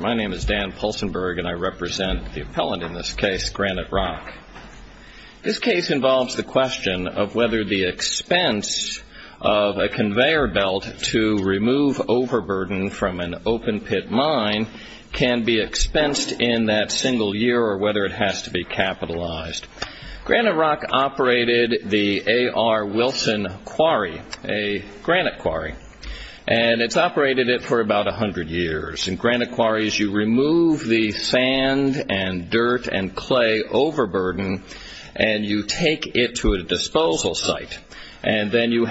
My name is Dan Pulsenberg and I represent the appellant in this case, Granite Rock. This case involves the question of whether the expense of a conveyor belt to remove overburden from an open pit mine can be expensed in that single year or whether it has to be capitalized. Granite Rock operated the A.R. Wilson Quarry, a granite quarry, and it's operated it for about 100 years. In granite quarries, you remove the sand and dirt and clay overburden and you take it to a disposal site and then you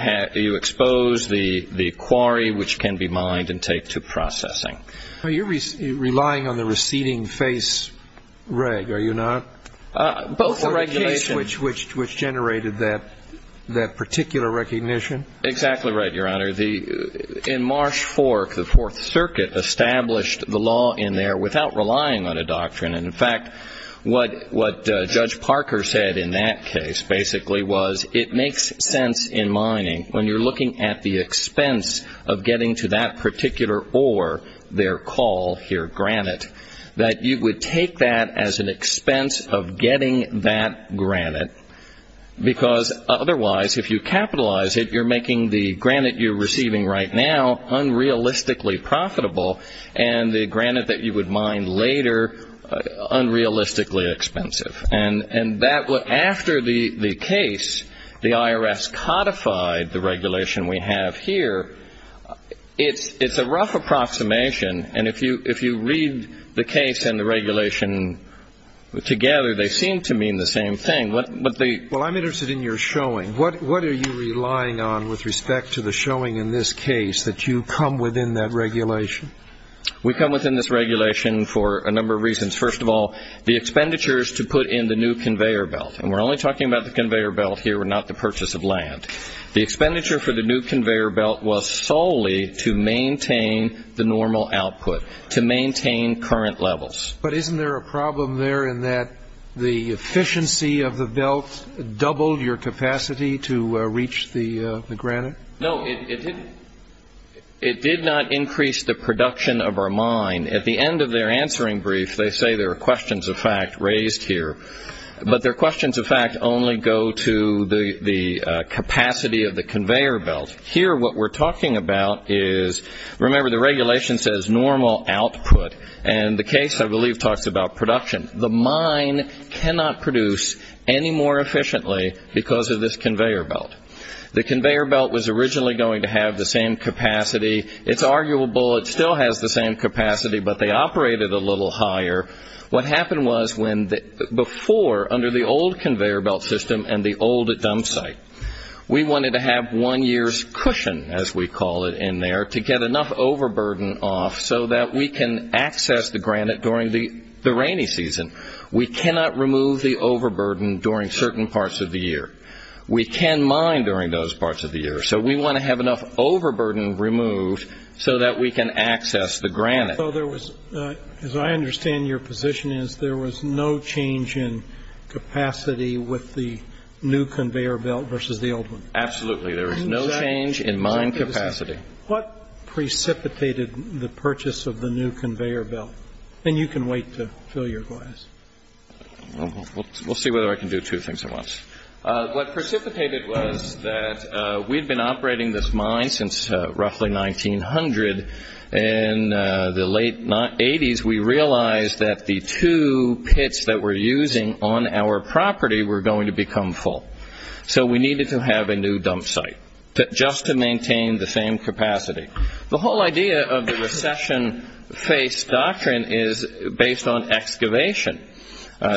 expose the quarry, which can be mined, and take to processing. You're relying on the receding face reg, are you not? Both the regulation... Or the case which generated that particular recognition? Exactly right, Your Honor. In Marsh Fork, the Fourth Circuit established the law in there without relying on a doctrine. And, in fact, what Judge Parker said in that case basically was it makes sense in mining when you're looking at the expense of getting to that particular ore, their call here granite, that you would take that as an expense of getting that granite because, otherwise, if you capitalize it, you're making the granite you're receiving right now unrealistically profitable and the granite that you would mine later unrealistically expensive. And after the case, the I.R.S. codified the regulation we have here. It's a rough approximation, and if you read the case and the regulation together, they seem to mean the same thing. Well, I'm interested in your showing. What are you relying on with respect to the showing in this case that you come within that regulation? We come within this regulation for a number of reasons. First of all, the expenditures to put in the new conveyor belt, and we're only talking about the conveyor belt here and not the purchase of land. The expenditure for the new conveyor belt was solely to maintain the normal output, to maintain current levels. But isn't there a problem there in that the efficiency of the belt doubled your capacity to reach the granite? No, it did not increase the production of our mine. At the end of their answering brief, they say there are questions of fact raised here, but their questions of fact only go to the capacity of the conveyor belt. Here, what we're talking about is, remember, the regulation says normal output, and the case, I believe, talks about production. The mine cannot produce any more efficiently because of this conveyor belt. The conveyor belt was originally going to have the same capacity. It's arguable it still has the same capacity, but they operate it a little higher. What happened was before, under the old conveyor belt system and the old dump site, we wanted to have one year's cushion, as we call it in there, to get enough overburden off so that we can access the granite during the rainy season. We cannot remove the overburden during certain parts of the year. We can mine during those parts of the year. So we want to have enough overburden removed so that we can access the granite. So there was, as I understand your position is, there was no change in capacity with the new conveyor belt versus the old one. Absolutely, there was no change in mine capacity. What precipitated the purchase of the new conveyor belt? And you can wait to fill your glass. We'll see whether I can do two things at once. What precipitated was that we'd been operating this mine since roughly 1900. In the late 1980s, we realized that the two pits that we're using on our property were going to become full. So we needed to have a new dump site just to maintain the same capacity. The whole idea of the recession-face doctrine is based on excavation.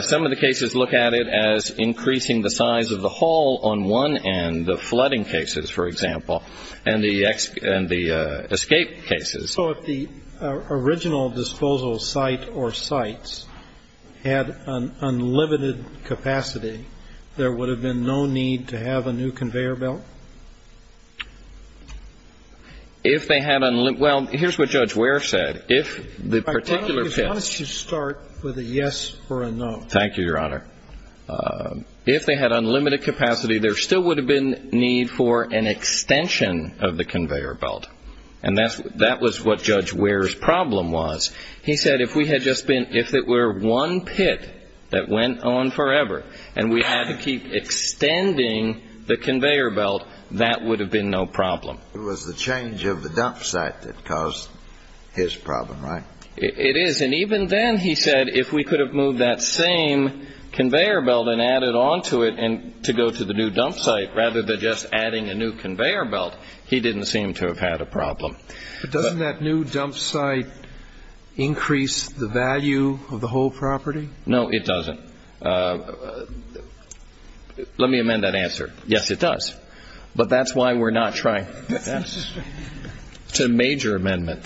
Some of the cases look at it as increasing the size of the hole on one end, the flooding cases, for example, and the escape cases. So if the original disposal site or sites had unlimited capacity, there would have been no need to have a new conveyor belt? Well, here's what Judge Ware said. Why don't you start with a yes or a no? Thank you, Your Honor. If they had unlimited capacity, there still would have been need for an extension of the conveyor belt. And that was what Judge Ware's problem was. He said if we had just been one pit that went on forever and we had to keep extending the conveyor belt, that would have been no problem. It was the change of the dump site that caused his problem, right? It is. And even then, he said, if we could have moved that same conveyor belt and added on to it to go to the new dump site rather than just adding a new conveyor belt, he didn't seem to have had a problem. But doesn't that new dump site increase the value of the whole property? No, it doesn't. Let me amend that answer. Yes, it does. But that's why we're not trying. It's a major amendment.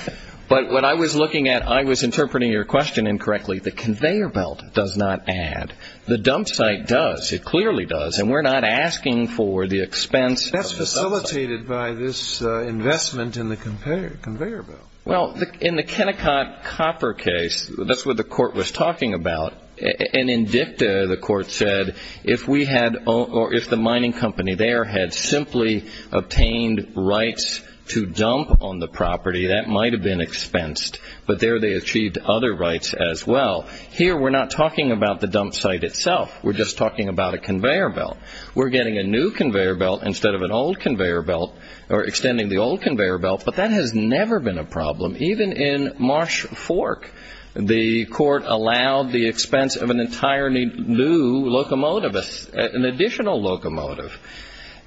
But what I was looking at, I was interpreting your question incorrectly. The conveyor belt does not add. It clearly does. And we're not asking for the expense of the dump site. That's facilitated by this investment in the conveyor belt. Well, in the Kennecott copper case, that's what the court was talking about. And in dicta, the court said if the mining company there had simply obtained rights to dump on the property, that might have been expensed. But there they achieved other rights as well. Here, we're not talking about the dump site itself. We're just talking about a conveyor belt. We're getting a new conveyor belt instead of an old conveyor belt or extending the old conveyor belt. But that has never been a problem. Even in Marsh Fork, the court allowed the expense of an entirely new locomotive, an additional locomotive.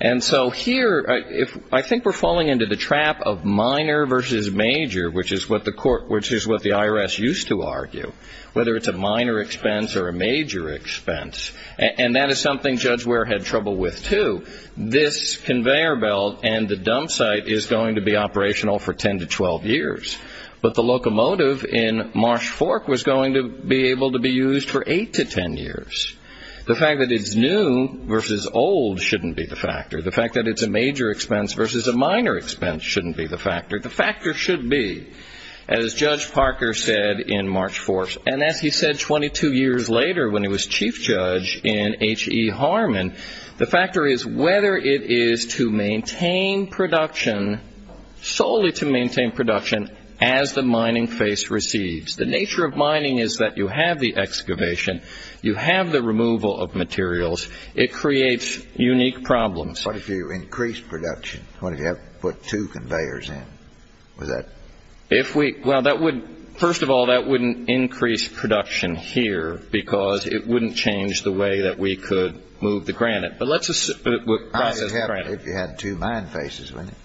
And so here, I think we're falling into the trap of minor versus major, which is what the IRS used to argue, whether it's a minor expense or a major expense. And that is something Judge Ware had trouble with too. This conveyor belt and the dump site is going to be operational for 10 to 12 years. But the locomotive in Marsh Fork was going to be able to be used for 8 to 10 years. The fact that it's new versus old shouldn't be the factor. The fact that it's a major expense versus a minor expense shouldn't be the factor. The factor should be, as Judge Parker said in Marsh Fork, and as he said 22 years later when he was chief judge in H.E. Harmon, the factor is whether it is to maintain production, solely to maintain production as the mining face receives. The nature of mining is that you have the excavation, you have the removal of materials. It creates unique problems. But if you increase production, what if you have to put two conveyors in? Well, first of all, that wouldn't increase production here because it wouldn't change the way that we could move the granite. If you had two mine faces, wouldn't it?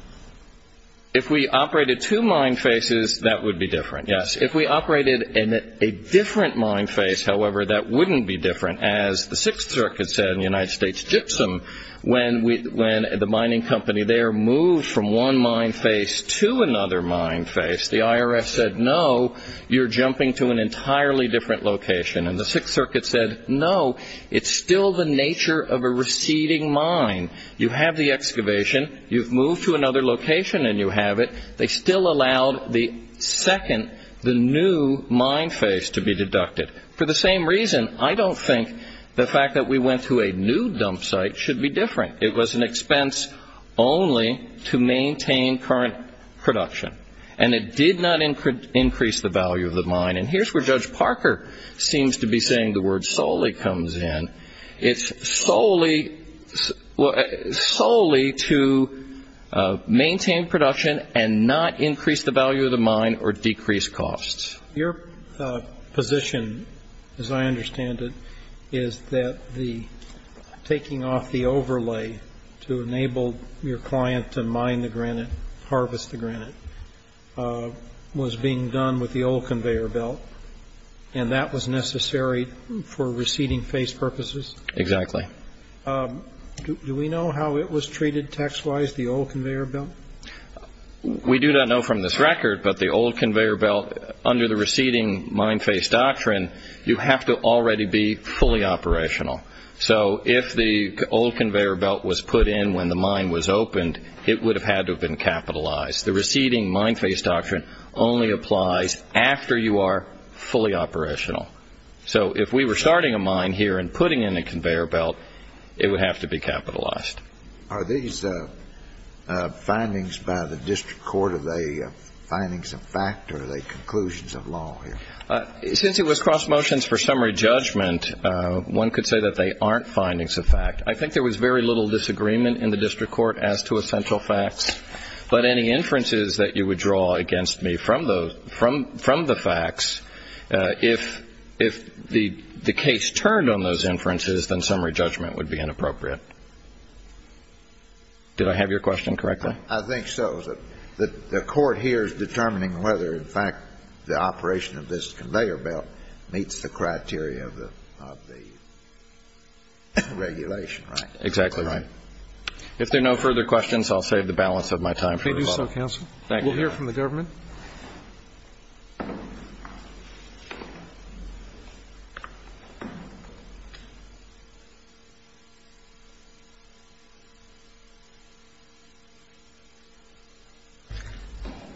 If we operated two mine faces, that would be different, yes. If we operated a different mine face, however, that wouldn't be different. As the Sixth Circuit said in the United States gypsum, when the mining company there moved from one mine face to another mine face, the IRS said, no, you're jumping to an entirely different location. And the Sixth Circuit said, no, it's still the nature of a receding mine. You have the excavation, you've moved to another location and you have it. They still allowed the second, the new mine face to be deducted. For the same reason, I don't think the fact that we went to a new dump site should be different. It was an expense only to maintain current production. And it did not increase the value of the mine. And here's where Judge Parker seems to be saying the word solely comes in. It's solely to maintain production and not increase the value of the mine or decrease costs. Your position, as I understand it, is that the taking off the overlay to enable your client to mine the granite, harvest the granite, was being done with the old conveyor belt, and that was necessary for receding face purposes? Exactly. Do we know how it was treated tax-wise, the old conveyor belt? We do not know from this record, but the old conveyor belt, under the receding mine face doctrine, you have to already be fully operational. So if the old conveyor belt was put in when the mine was opened, it would have had to have been capitalized. The receding mine face doctrine only applies after you are fully operational. So if we were starting a mine here and putting in a conveyor belt, it would have to be capitalized. Are these findings by the district court, are they findings of fact or are they conclusions of law here? Since it was cross motions for summary judgment, one could say that they aren't findings of fact. I think there was very little disagreement in the district court as to essential facts. But any inferences that you would draw against me from the facts, if the case turned on those inferences, then summary judgment would be inappropriate. Did I have your question correctly? I think so. The court here is determining whether, in fact, the operation of this conveyor belt meets the criteria of the regulation, right? Exactly right. If there are no further questions, I'll save the balance of my time. Please do so, counsel. Thank you. We'll hear from the government.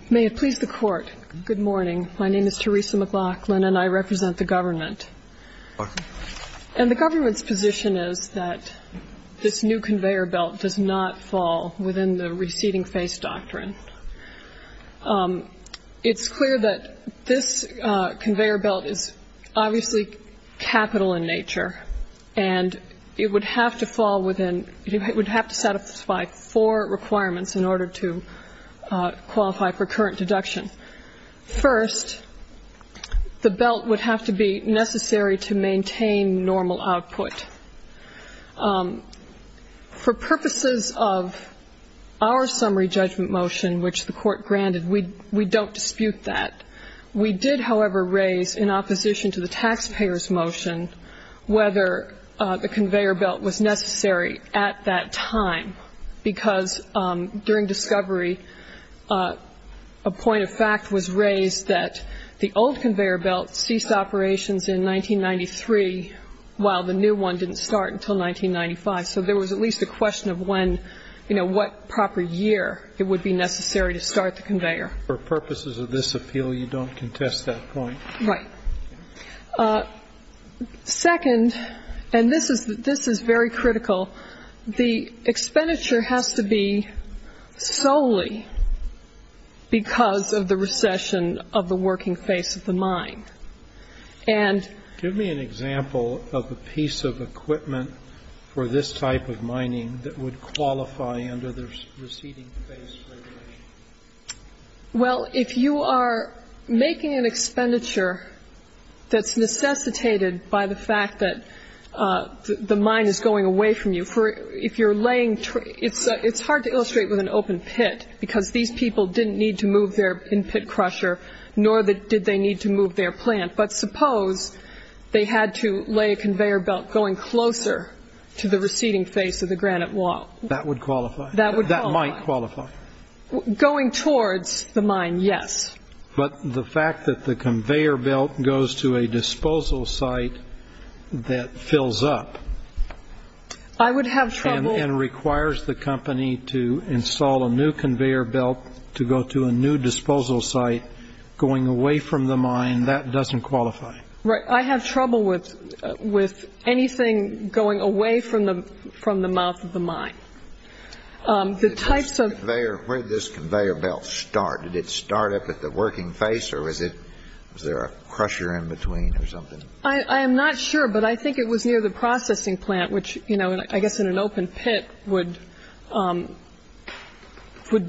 May it please the Court, good morning. My name is Theresa McLaughlin and I represent the government. Welcome. And the government's position is that this new conveyor belt does not fall within the receding face doctrine. It's clear that this conveyor belt is obviously capital in nature and it would have to fall within, it would have to satisfy four requirements in order to qualify for current deduction. First, the belt would have to be necessary to maintain normal output. For purposes of our summary judgment motion, which the court granted, we don't dispute that. We did, however, raise in opposition to the taxpayer's motion whether the conveyor belt was necessary at that time, because during discovery a point of fact was raised that the old conveyor belt ceased operations in 1993, while the new one didn't start until 1995. So there was at least a question of when, you know, what proper year it would be necessary to start the conveyor. For purposes of this appeal, you don't contest that point. Right. Second, and this is very critical, the expenditure has to be solely because of the recession of the working face of the mine. Give me an example of a piece of equipment for this type of mining that would qualify under the receding face regulation. Well, if you are making an expenditure that's necessitated by the fact that the mine is going away from you, if you're laying, it's hard to illustrate with an open pit, because these people didn't need to move their in-pit crusher, nor did they need to move their plant. But suppose they had to lay a conveyor belt going closer to the receding face of the granite wall. That would qualify. That would qualify. That might qualify. Going towards the mine, yes. But the fact that the conveyor belt goes to a disposal site that fills up. I would have trouble. And requires the company to install a new conveyor belt to go to a new disposal site going away from the mine, that doesn't qualify. Right. I have trouble with anything going away from the mouth of the mine. Where did this conveyor belt start? Did it start up at the working face, or was there a crusher in between or something? I am not sure, but I think it was near the processing plant, which I guess in an open pit would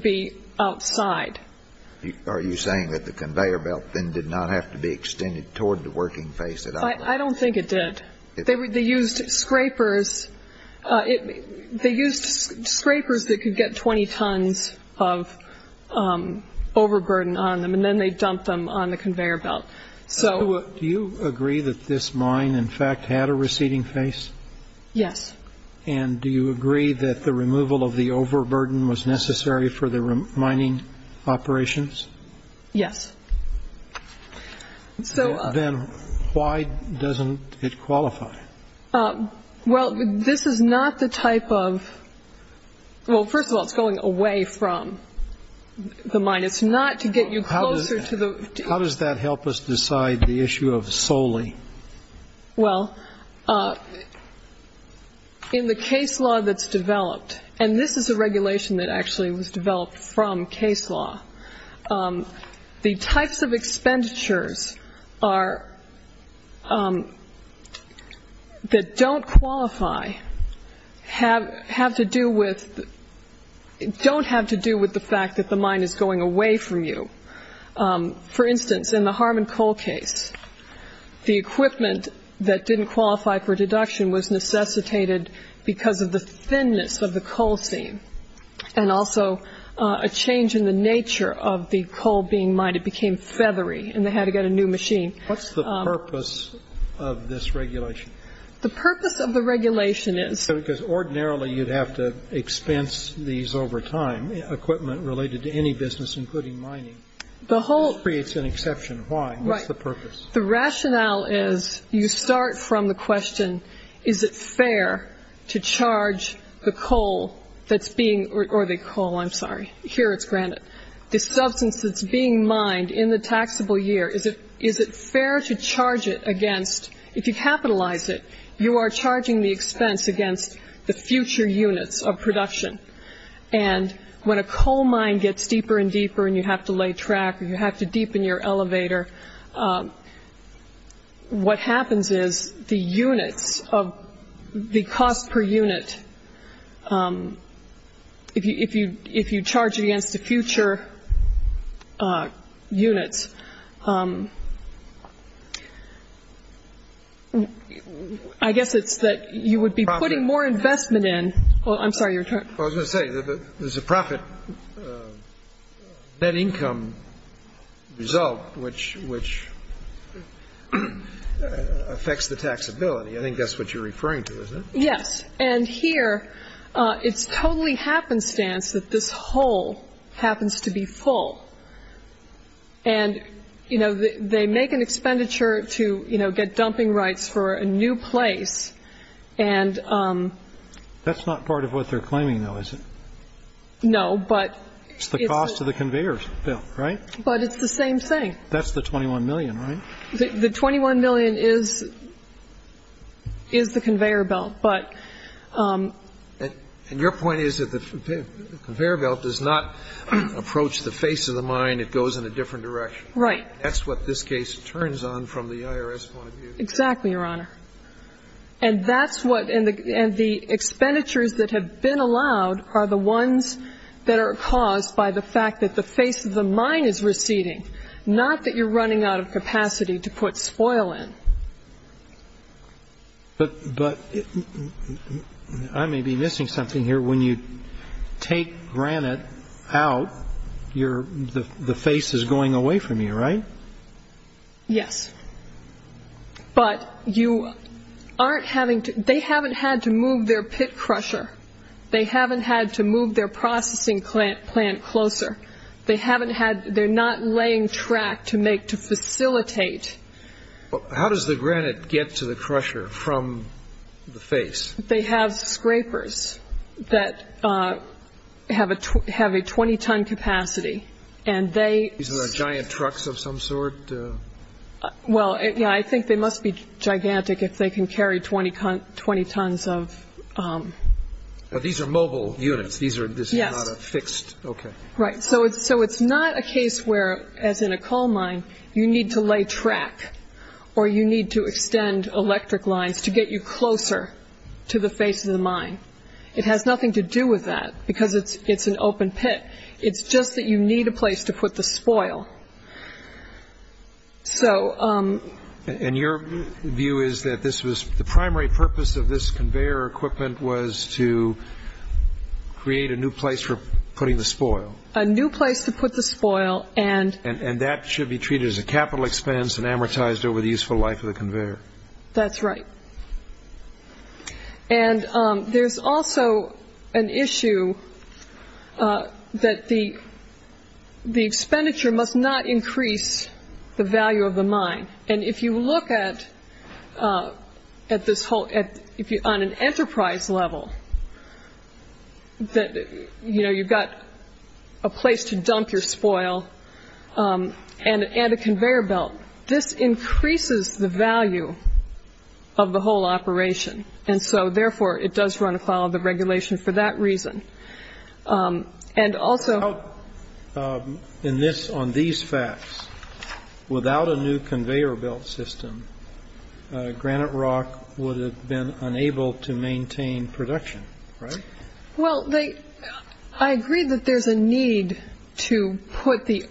be outside. Are you saying that the conveyor belt then did not have to be extended toward the working face at all? I don't think it did. They used scrapers that could get 20 tons of overburden on them, and then they dumped them on the conveyor belt. Do you agree that this mine, in fact, had a receding face? Yes. And do you agree that the removal of the overburden was necessary for the mining operations? Yes. Then why doesn't it qualify? Well, this is not the type of ‑‑ well, first of all, it's going away from the mine. It's not to get you closer to the ‑‑ How does that help us decide the issue of solely? Well, in the case law that's developed, and this is a regulation that actually was developed from case law, the types of expenditures that don't qualify have to do with ‑‑ don't have to do with the fact that the mine is going away from you. For instance, in the Harmon Coal case, the equipment that didn't qualify for deduction was necessitated because of the thinness of the coal seam and also a change in the nature of the coal being mined. It became feathery, and they had to get a new machine. What's the purpose of this regulation? The purpose of the regulation is ‑‑ Because ordinarily you'd have to expense these over time, equipment related to any business, including mining. Why? What's the purpose? The rationale is you start from the question, is it fair to charge the coal that's being ‑‑ or the coal, I'm sorry. Here it's granite. The substance that's being mined in the taxable year, is it fair to charge it against ‑‑ if you capitalize it, you are charging the expense against the future units of production. And when a coal mine gets deeper and deeper and you have to lay track or you have to deepen your elevator, what happens is the units of the cost per unit, if you charge it against the future units, I guess it's that you would be putting more investment in. I'm sorry, your turn. I was going to say, there's a profit net income result which affects the taxability. I think that's what you're referring to, isn't it? Yes. And here it's totally happenstance that this hole happens to be full. And, you know, they make an expenditure to, you know, get dumping rights for a new place. And ‑‑ That's not part of what they're claiming, though, is it? No, but ‑‑ It's the cost of the conveyor belt, right? But it's the same thing. That's the $21 million, right? The $21 million is the conveyor belt, but ‑‑ And your point is that the conveyor belt does not approach the face of the mine. It goes in a different direction. That's what this case turns on from the IRS point of view. Exactly, Your Honor. And that's what ‑‑ and the expenditures that have been allowed are the ones that are caused by the fact that the face of the mine is receding, not that you're running out of capacity to put spoil in. But I may be missing something here. When you take granite out, the face is going away from you, right? Yes. But you aren't having to ‑‑ they haven't had to move their pit crusher. They haven't had to move their processing plant closer. They haven't had ‑‑ they're not laying track to make, to facilitate. How does the granite get to the crusher from the face? They have scrapers that have a 20‑ton capacity, and they ‑‑ These are the giant trucks of some sort? Well, yeah, I think they must be gigantic if they can carry 20 tons of ‑‑ These are mobile units. Yes. These are not fixed. Okay. Right. So it's not a case where, as in a coal mine, you need to lay track or you need to extend electric lines to get you closer to the face of the mine. It has nothing to do with that because it's an open pit. It's just that you need a place to put the spoil. And your view is that this was ‑‑ the primary purpose of this conveyor equipment was to create a new place for putting the spoil? A new place to put the spoil. And that should be treated as a capital expense and amortized over the useful life of the conveyor? That's right. And there's also an issue that the expenditure must not increase the value of the mine. And if you look at this whole ‑‑ on an enterprise level, you know, you've got a place to dump your spoil and a conveyor belt. This increases the value of the whole operation. And so, therefore, it does run afoul of the regulation for that reason. And also ‑‑ In this ‑‑ on these facts, without a new conveyor belt system, Granite Rock would have been unable to maintain production, right? Well, I agree that there's a need to put the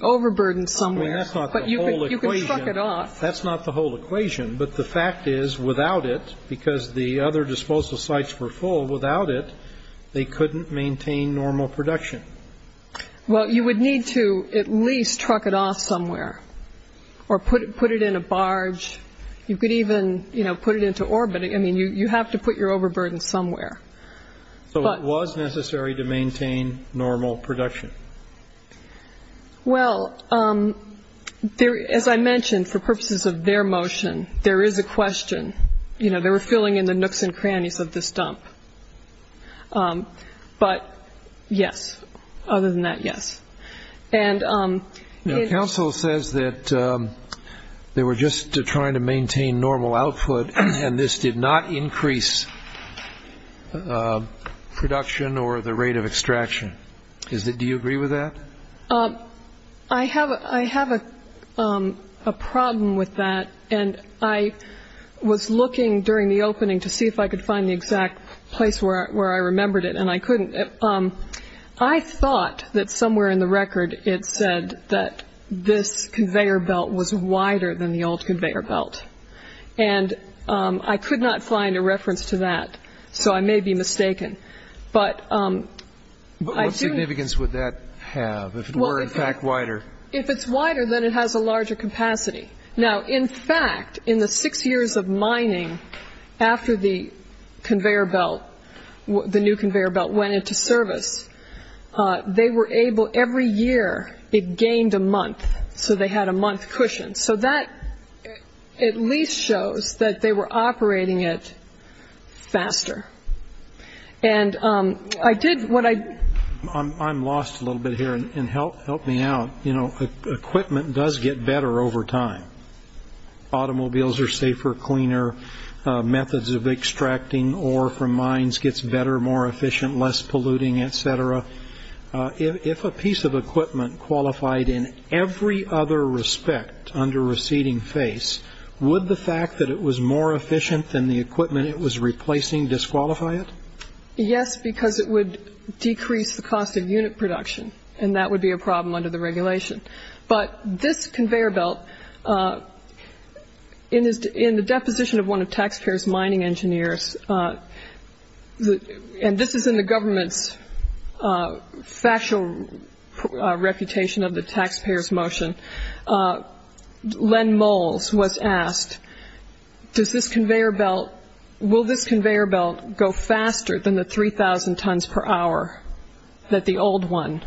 overburden somewhere. That's not the whole equation. But you can truck it off. That's not the whole equation. But the fact is, without it, because the other disposal sites were full, without it, they couldn't maintain normal production. Well, you would need to at least truck it off somewhere or put it in a barge. You could even, you know, put it into orbit. I mean, you have to put your overburden somewhere. So it was necessary to maintain normal production. Well, as I mentioned, for purposes of their motion, there is a question. You know, they were filling in the nooks and crannies of this dump. But, yes. Other than that, yes. Now, counsel says that they were just trying to maintain normal output and this did not increase production or the rate of extraction. Do you agree with that? I have a problem with that, and I was looking during the opening to see if I could find the exact place where I remembered it, and I couldn't. I thought that somewhere in the record it said that this conveyor belt was wider than the old conveyor belt. And I could not find a reference to that, so I may be mistaken. But what significance would that have if it were, in fact, wider? If it's wider, then it has a larger capacity. Now, in fact, in the six years of mining after the conveyor belt, the new conveyor belt went into service, they were able, every year it gained a month. So they had a month cushion. So that at least shows that they were operating it faster. I'm lost a little bit here, and help me out. You know, equipment does get better over time. Automobiles are safer, cleaner. Methods of extracting ore from mines gets better, more efficient, less polluting, et cetera. If a piece of equipment qualified in every other respect under receding face, would the fact that it was more efficient than the equipment it was replacing disqualify it? Yes, because it would decrease the cost of unit production, and that would be a problem under the regulation. But this conveyor belt, in the deposition of one of taxpayers' mining engineers, and this is in the government's factual reputation of the taxpayers' motion, Len Moles was asked, does this conveyor belt, will this conveyor belt go faster than the 3,000 tons per hour that the old one?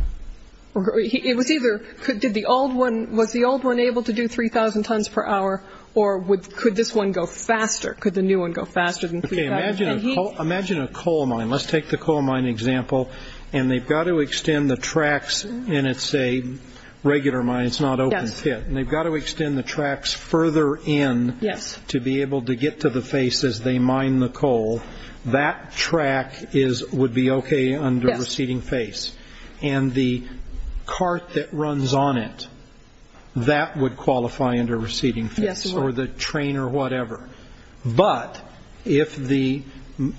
It was either, did the old one, was the old one able to do 3,000 tons per hour, or could this one go faster, could the new one go faster than 3,000? Okay, imagine a coal mine. Let's take the coal mine example, and they've got to extend the tracks, and it's a regular mine, it's not open pit, and they've got to extend the tracks further in to be able to get to the face as they mine the coal. That track would be okay under receding face, and the cart that runs on it, that would qualify under receding face, or the train or whatever. But if the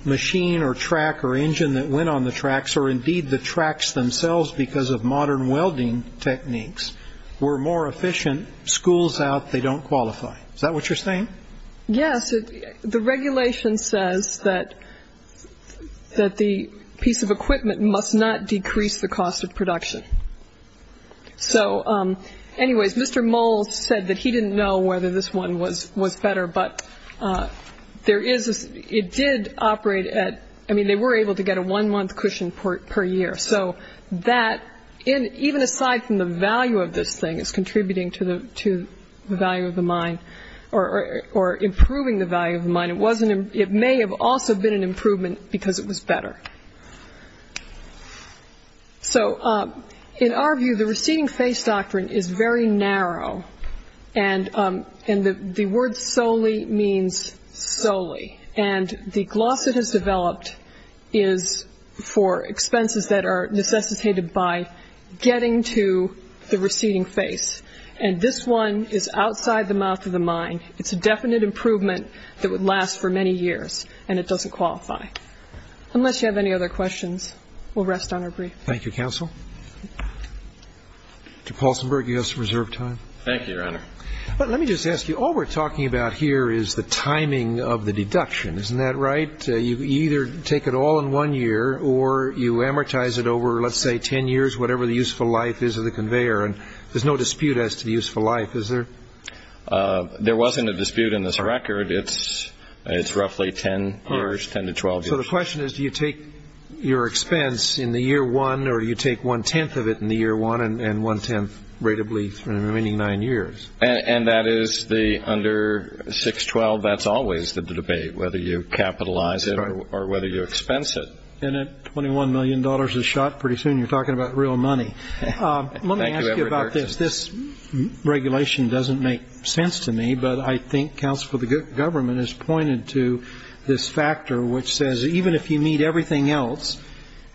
machine or track or engine that went on the tracks, or indeed the tracks themselves because of modern welding techniques, were more efficient, schools out, they don't qualify. Is that what you're saying? Yes, the regulation says that the piece of equipment must not decrease the cost of production. So anyways, Mr. Moles said that he didn't know whether this one was better, but they were able to get a one-month cushion per year. So even aside from the value of this thing as contributing to the value of the mine, or improving the value of the mine, it may have also been an improvement because it was better. So in our view, the receding face doctrine is very narrow, and the word solely means solely, and the gloss it has developed is for expenses that are necessitated by getting to the receding face. And this one is outside the mouth of the mine. It's a definite improvement that would last for many years, and it doesn't qualify. Unless you have any other questions, we'll rest on our brief. Thank you, Counsel. Mr. Paulsenberg, you have some reserved time. Thank you, Your Honor. Let me just ask you, all we're talking about here is the timing of the deduction. Isn't that right? You either take it all in one year, or you amortize it over, let's say, 10 years, whatever the useful life is of the conveyor. And there's no dispute as to the useful life, is there? There wasn't a dispute in this record. It's roughly 10 years, 10 to 12 years. So the question is, do you take your expense in the year one, or do you take one-tenth of it in the year one and one-tenth rate of lease for the remaining nine years? And that is the under 6-12, that's always the debate, whether you capitalize it or whether you expense it. And $21 million is shot pretty soon. You're talking about real money. Let me ask you about this. This regulation doesn't make sense to me, but I think counsel for the government has pointed to this factor which says even if you need everything else,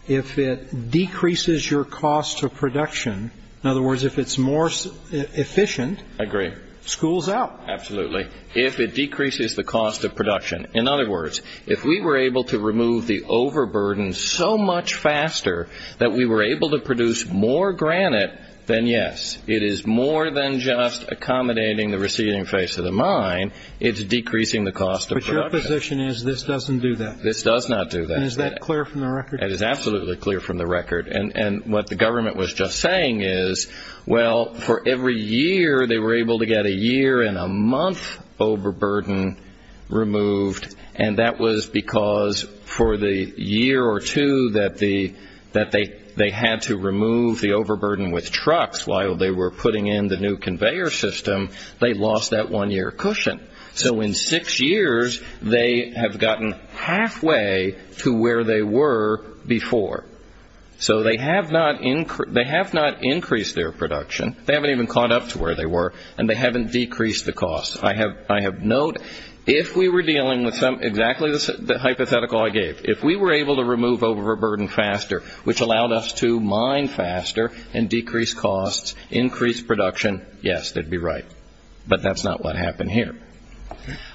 if it decreases your cost of production, in other words, if it's more efficient. I agree. School's out. Absolutely. If it decreases the cost of production. In other words, if we were able to remove the overburden so much faster that we were able to produce more granite, then yes, it is more than just accommodating the receding face of the mine, it's decreasing the cost of production. But your position is this doesn't do that. This does not do that. And is that clear from the record? That is absolutely clear from the record. And what the government was just saying is, well, for every year, they were able to get a year and a month overburden removed, and that was because for the year or two that they had to remove the overburden with trucks while they were putting in the new conveyor system, they lost that one-year cushion. So in six years, they have gotten halfway to where they were before. So they have not increased their production. They haven't even caught up to where they were, and they haven't decreased the cost. I have note, if we were dealing with exactly the hypothetical I gave, if we were able to remove overburden faster, which allowed us to mine faster and decrease costs, increase production, yes, they'd be right. But that's not what happened here.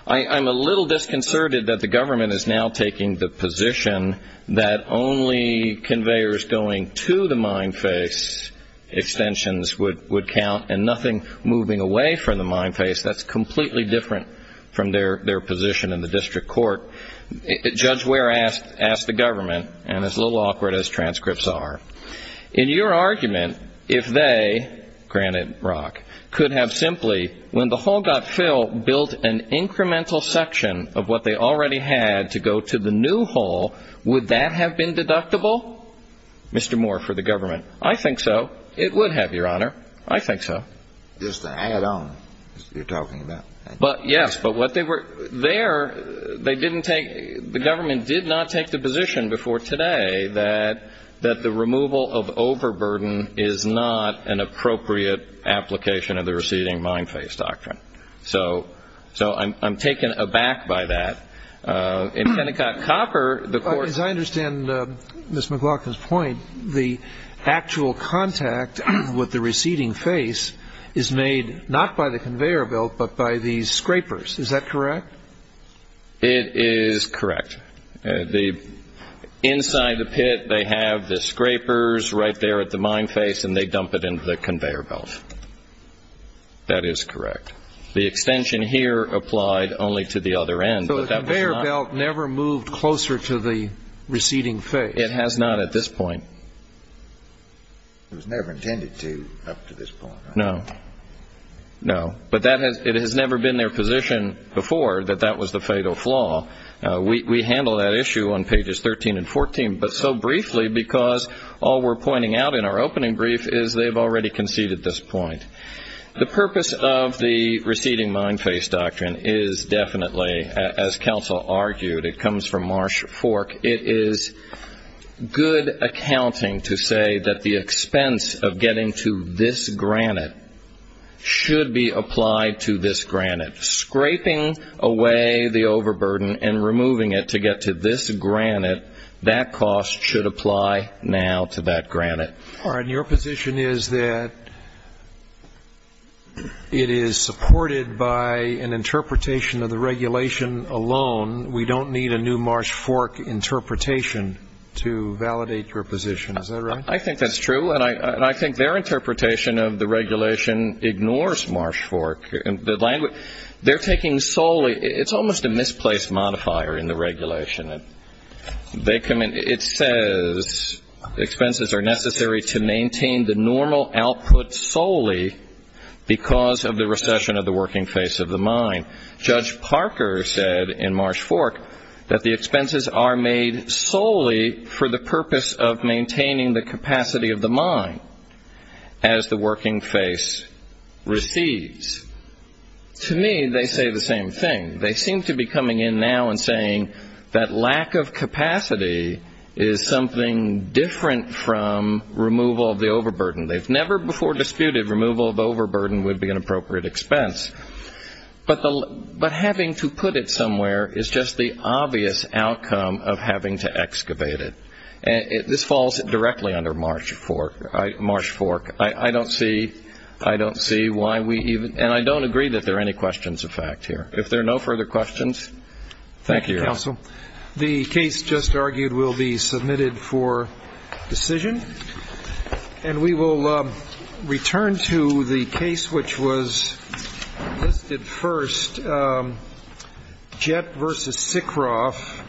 I'm a little disconcerted that the government is now taking the position that only conveyors going to the mine face extensions would count and nothing moving away from the mine face. That's completely different from their position in the district court. Judge Ware asked the government, and it's a little awkward as transcripts are, in your argument, if they, granted rock, could have simply, when the hole got filled, built an incremental section of what they already had to go to the new hole, would that have been deductible, Mr. Moore, for the government? I think so. It would have, Your Honor. I think so. Just the add-on you're talking about. Yes, but what they were there, they didn't take, the government did not take the position before today that the removal of overburden is not an appropriate application of the receding mine face doctrine. So I'm taken aback by that. In Kennecott Copper, the court ---- As I understand Ms. McLaughlin's point, the actual contact with the receding face is made not by the conveyor belt, but by these scrapers. Is that correct? It is correct. Inside the pit, they have the scrapers right there at the mine face, and they dump it into the conveyor belt. That is correct. The extension here applied only to the other end. So the conveyor belt never moved closer to the receding face? It has not at this point. It was never intended to up to this point, right? No. No. But it has never been their position before that that was the fatal flaw. We handle that issue on pages 13 and 14, but so briefly because all we're pointing out in our opening brief is they've already conceded this point. The purpose of the receding mine face doctrine is definitely, as counsel argued, it comes from Marsh Fork, it is good accounting to say that the expense of getting to this granite should be applied to this granite. Scraping away the overburden and removing it to get to this granite, that cost should apply now to that granite. Your position is that it is supported by an interpretation of the regulation alone. We don't need a new Marsh Fork interpretation to validate your position. Is that right? I think that's true, and I think their interpretation of the regulation ignores Marsh Fork. They're taking solely, it's almost a misplaced modifier in the regulation. It says expenses are necessary to maintain the normal output solely because of the recession of the working face of the mine. Judge Parker said in Marsh Fork that the expenses are made solely for the purpose of maintaining the capacity of the mine as the working face recedes. To me, they say the same thing. They seem to be coming in now and saying that lack of capacity is something different from removal of the overburden. They've never before disputed removal of overburden would be an appropriate expense, but having to put it somewhere is just the obvious outcome of having to excavate it. This falls directly under Marsh Fork. I don't see why we even, and I don't agree that there are any questions of fact here. If there are no further questions, thank you. Thank you, counsel. The case just argued will be submitted for decision, And we will return to the case which was listed first. Jett v. Sikroff.